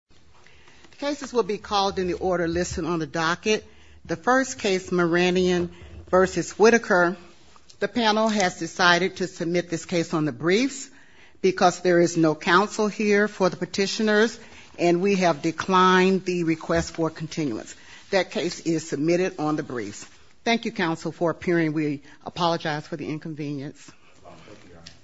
Cases will be called in the order listed on the docket. The first case, Muradyan v. Whitaker, the panel has decided to submit this case on the briefs because there is no counsel here for the petitioners and we have declined the request for continuance. That case is submitted on the briefs. Thank you, counsel, for appearing. We apologize for the inconvenience.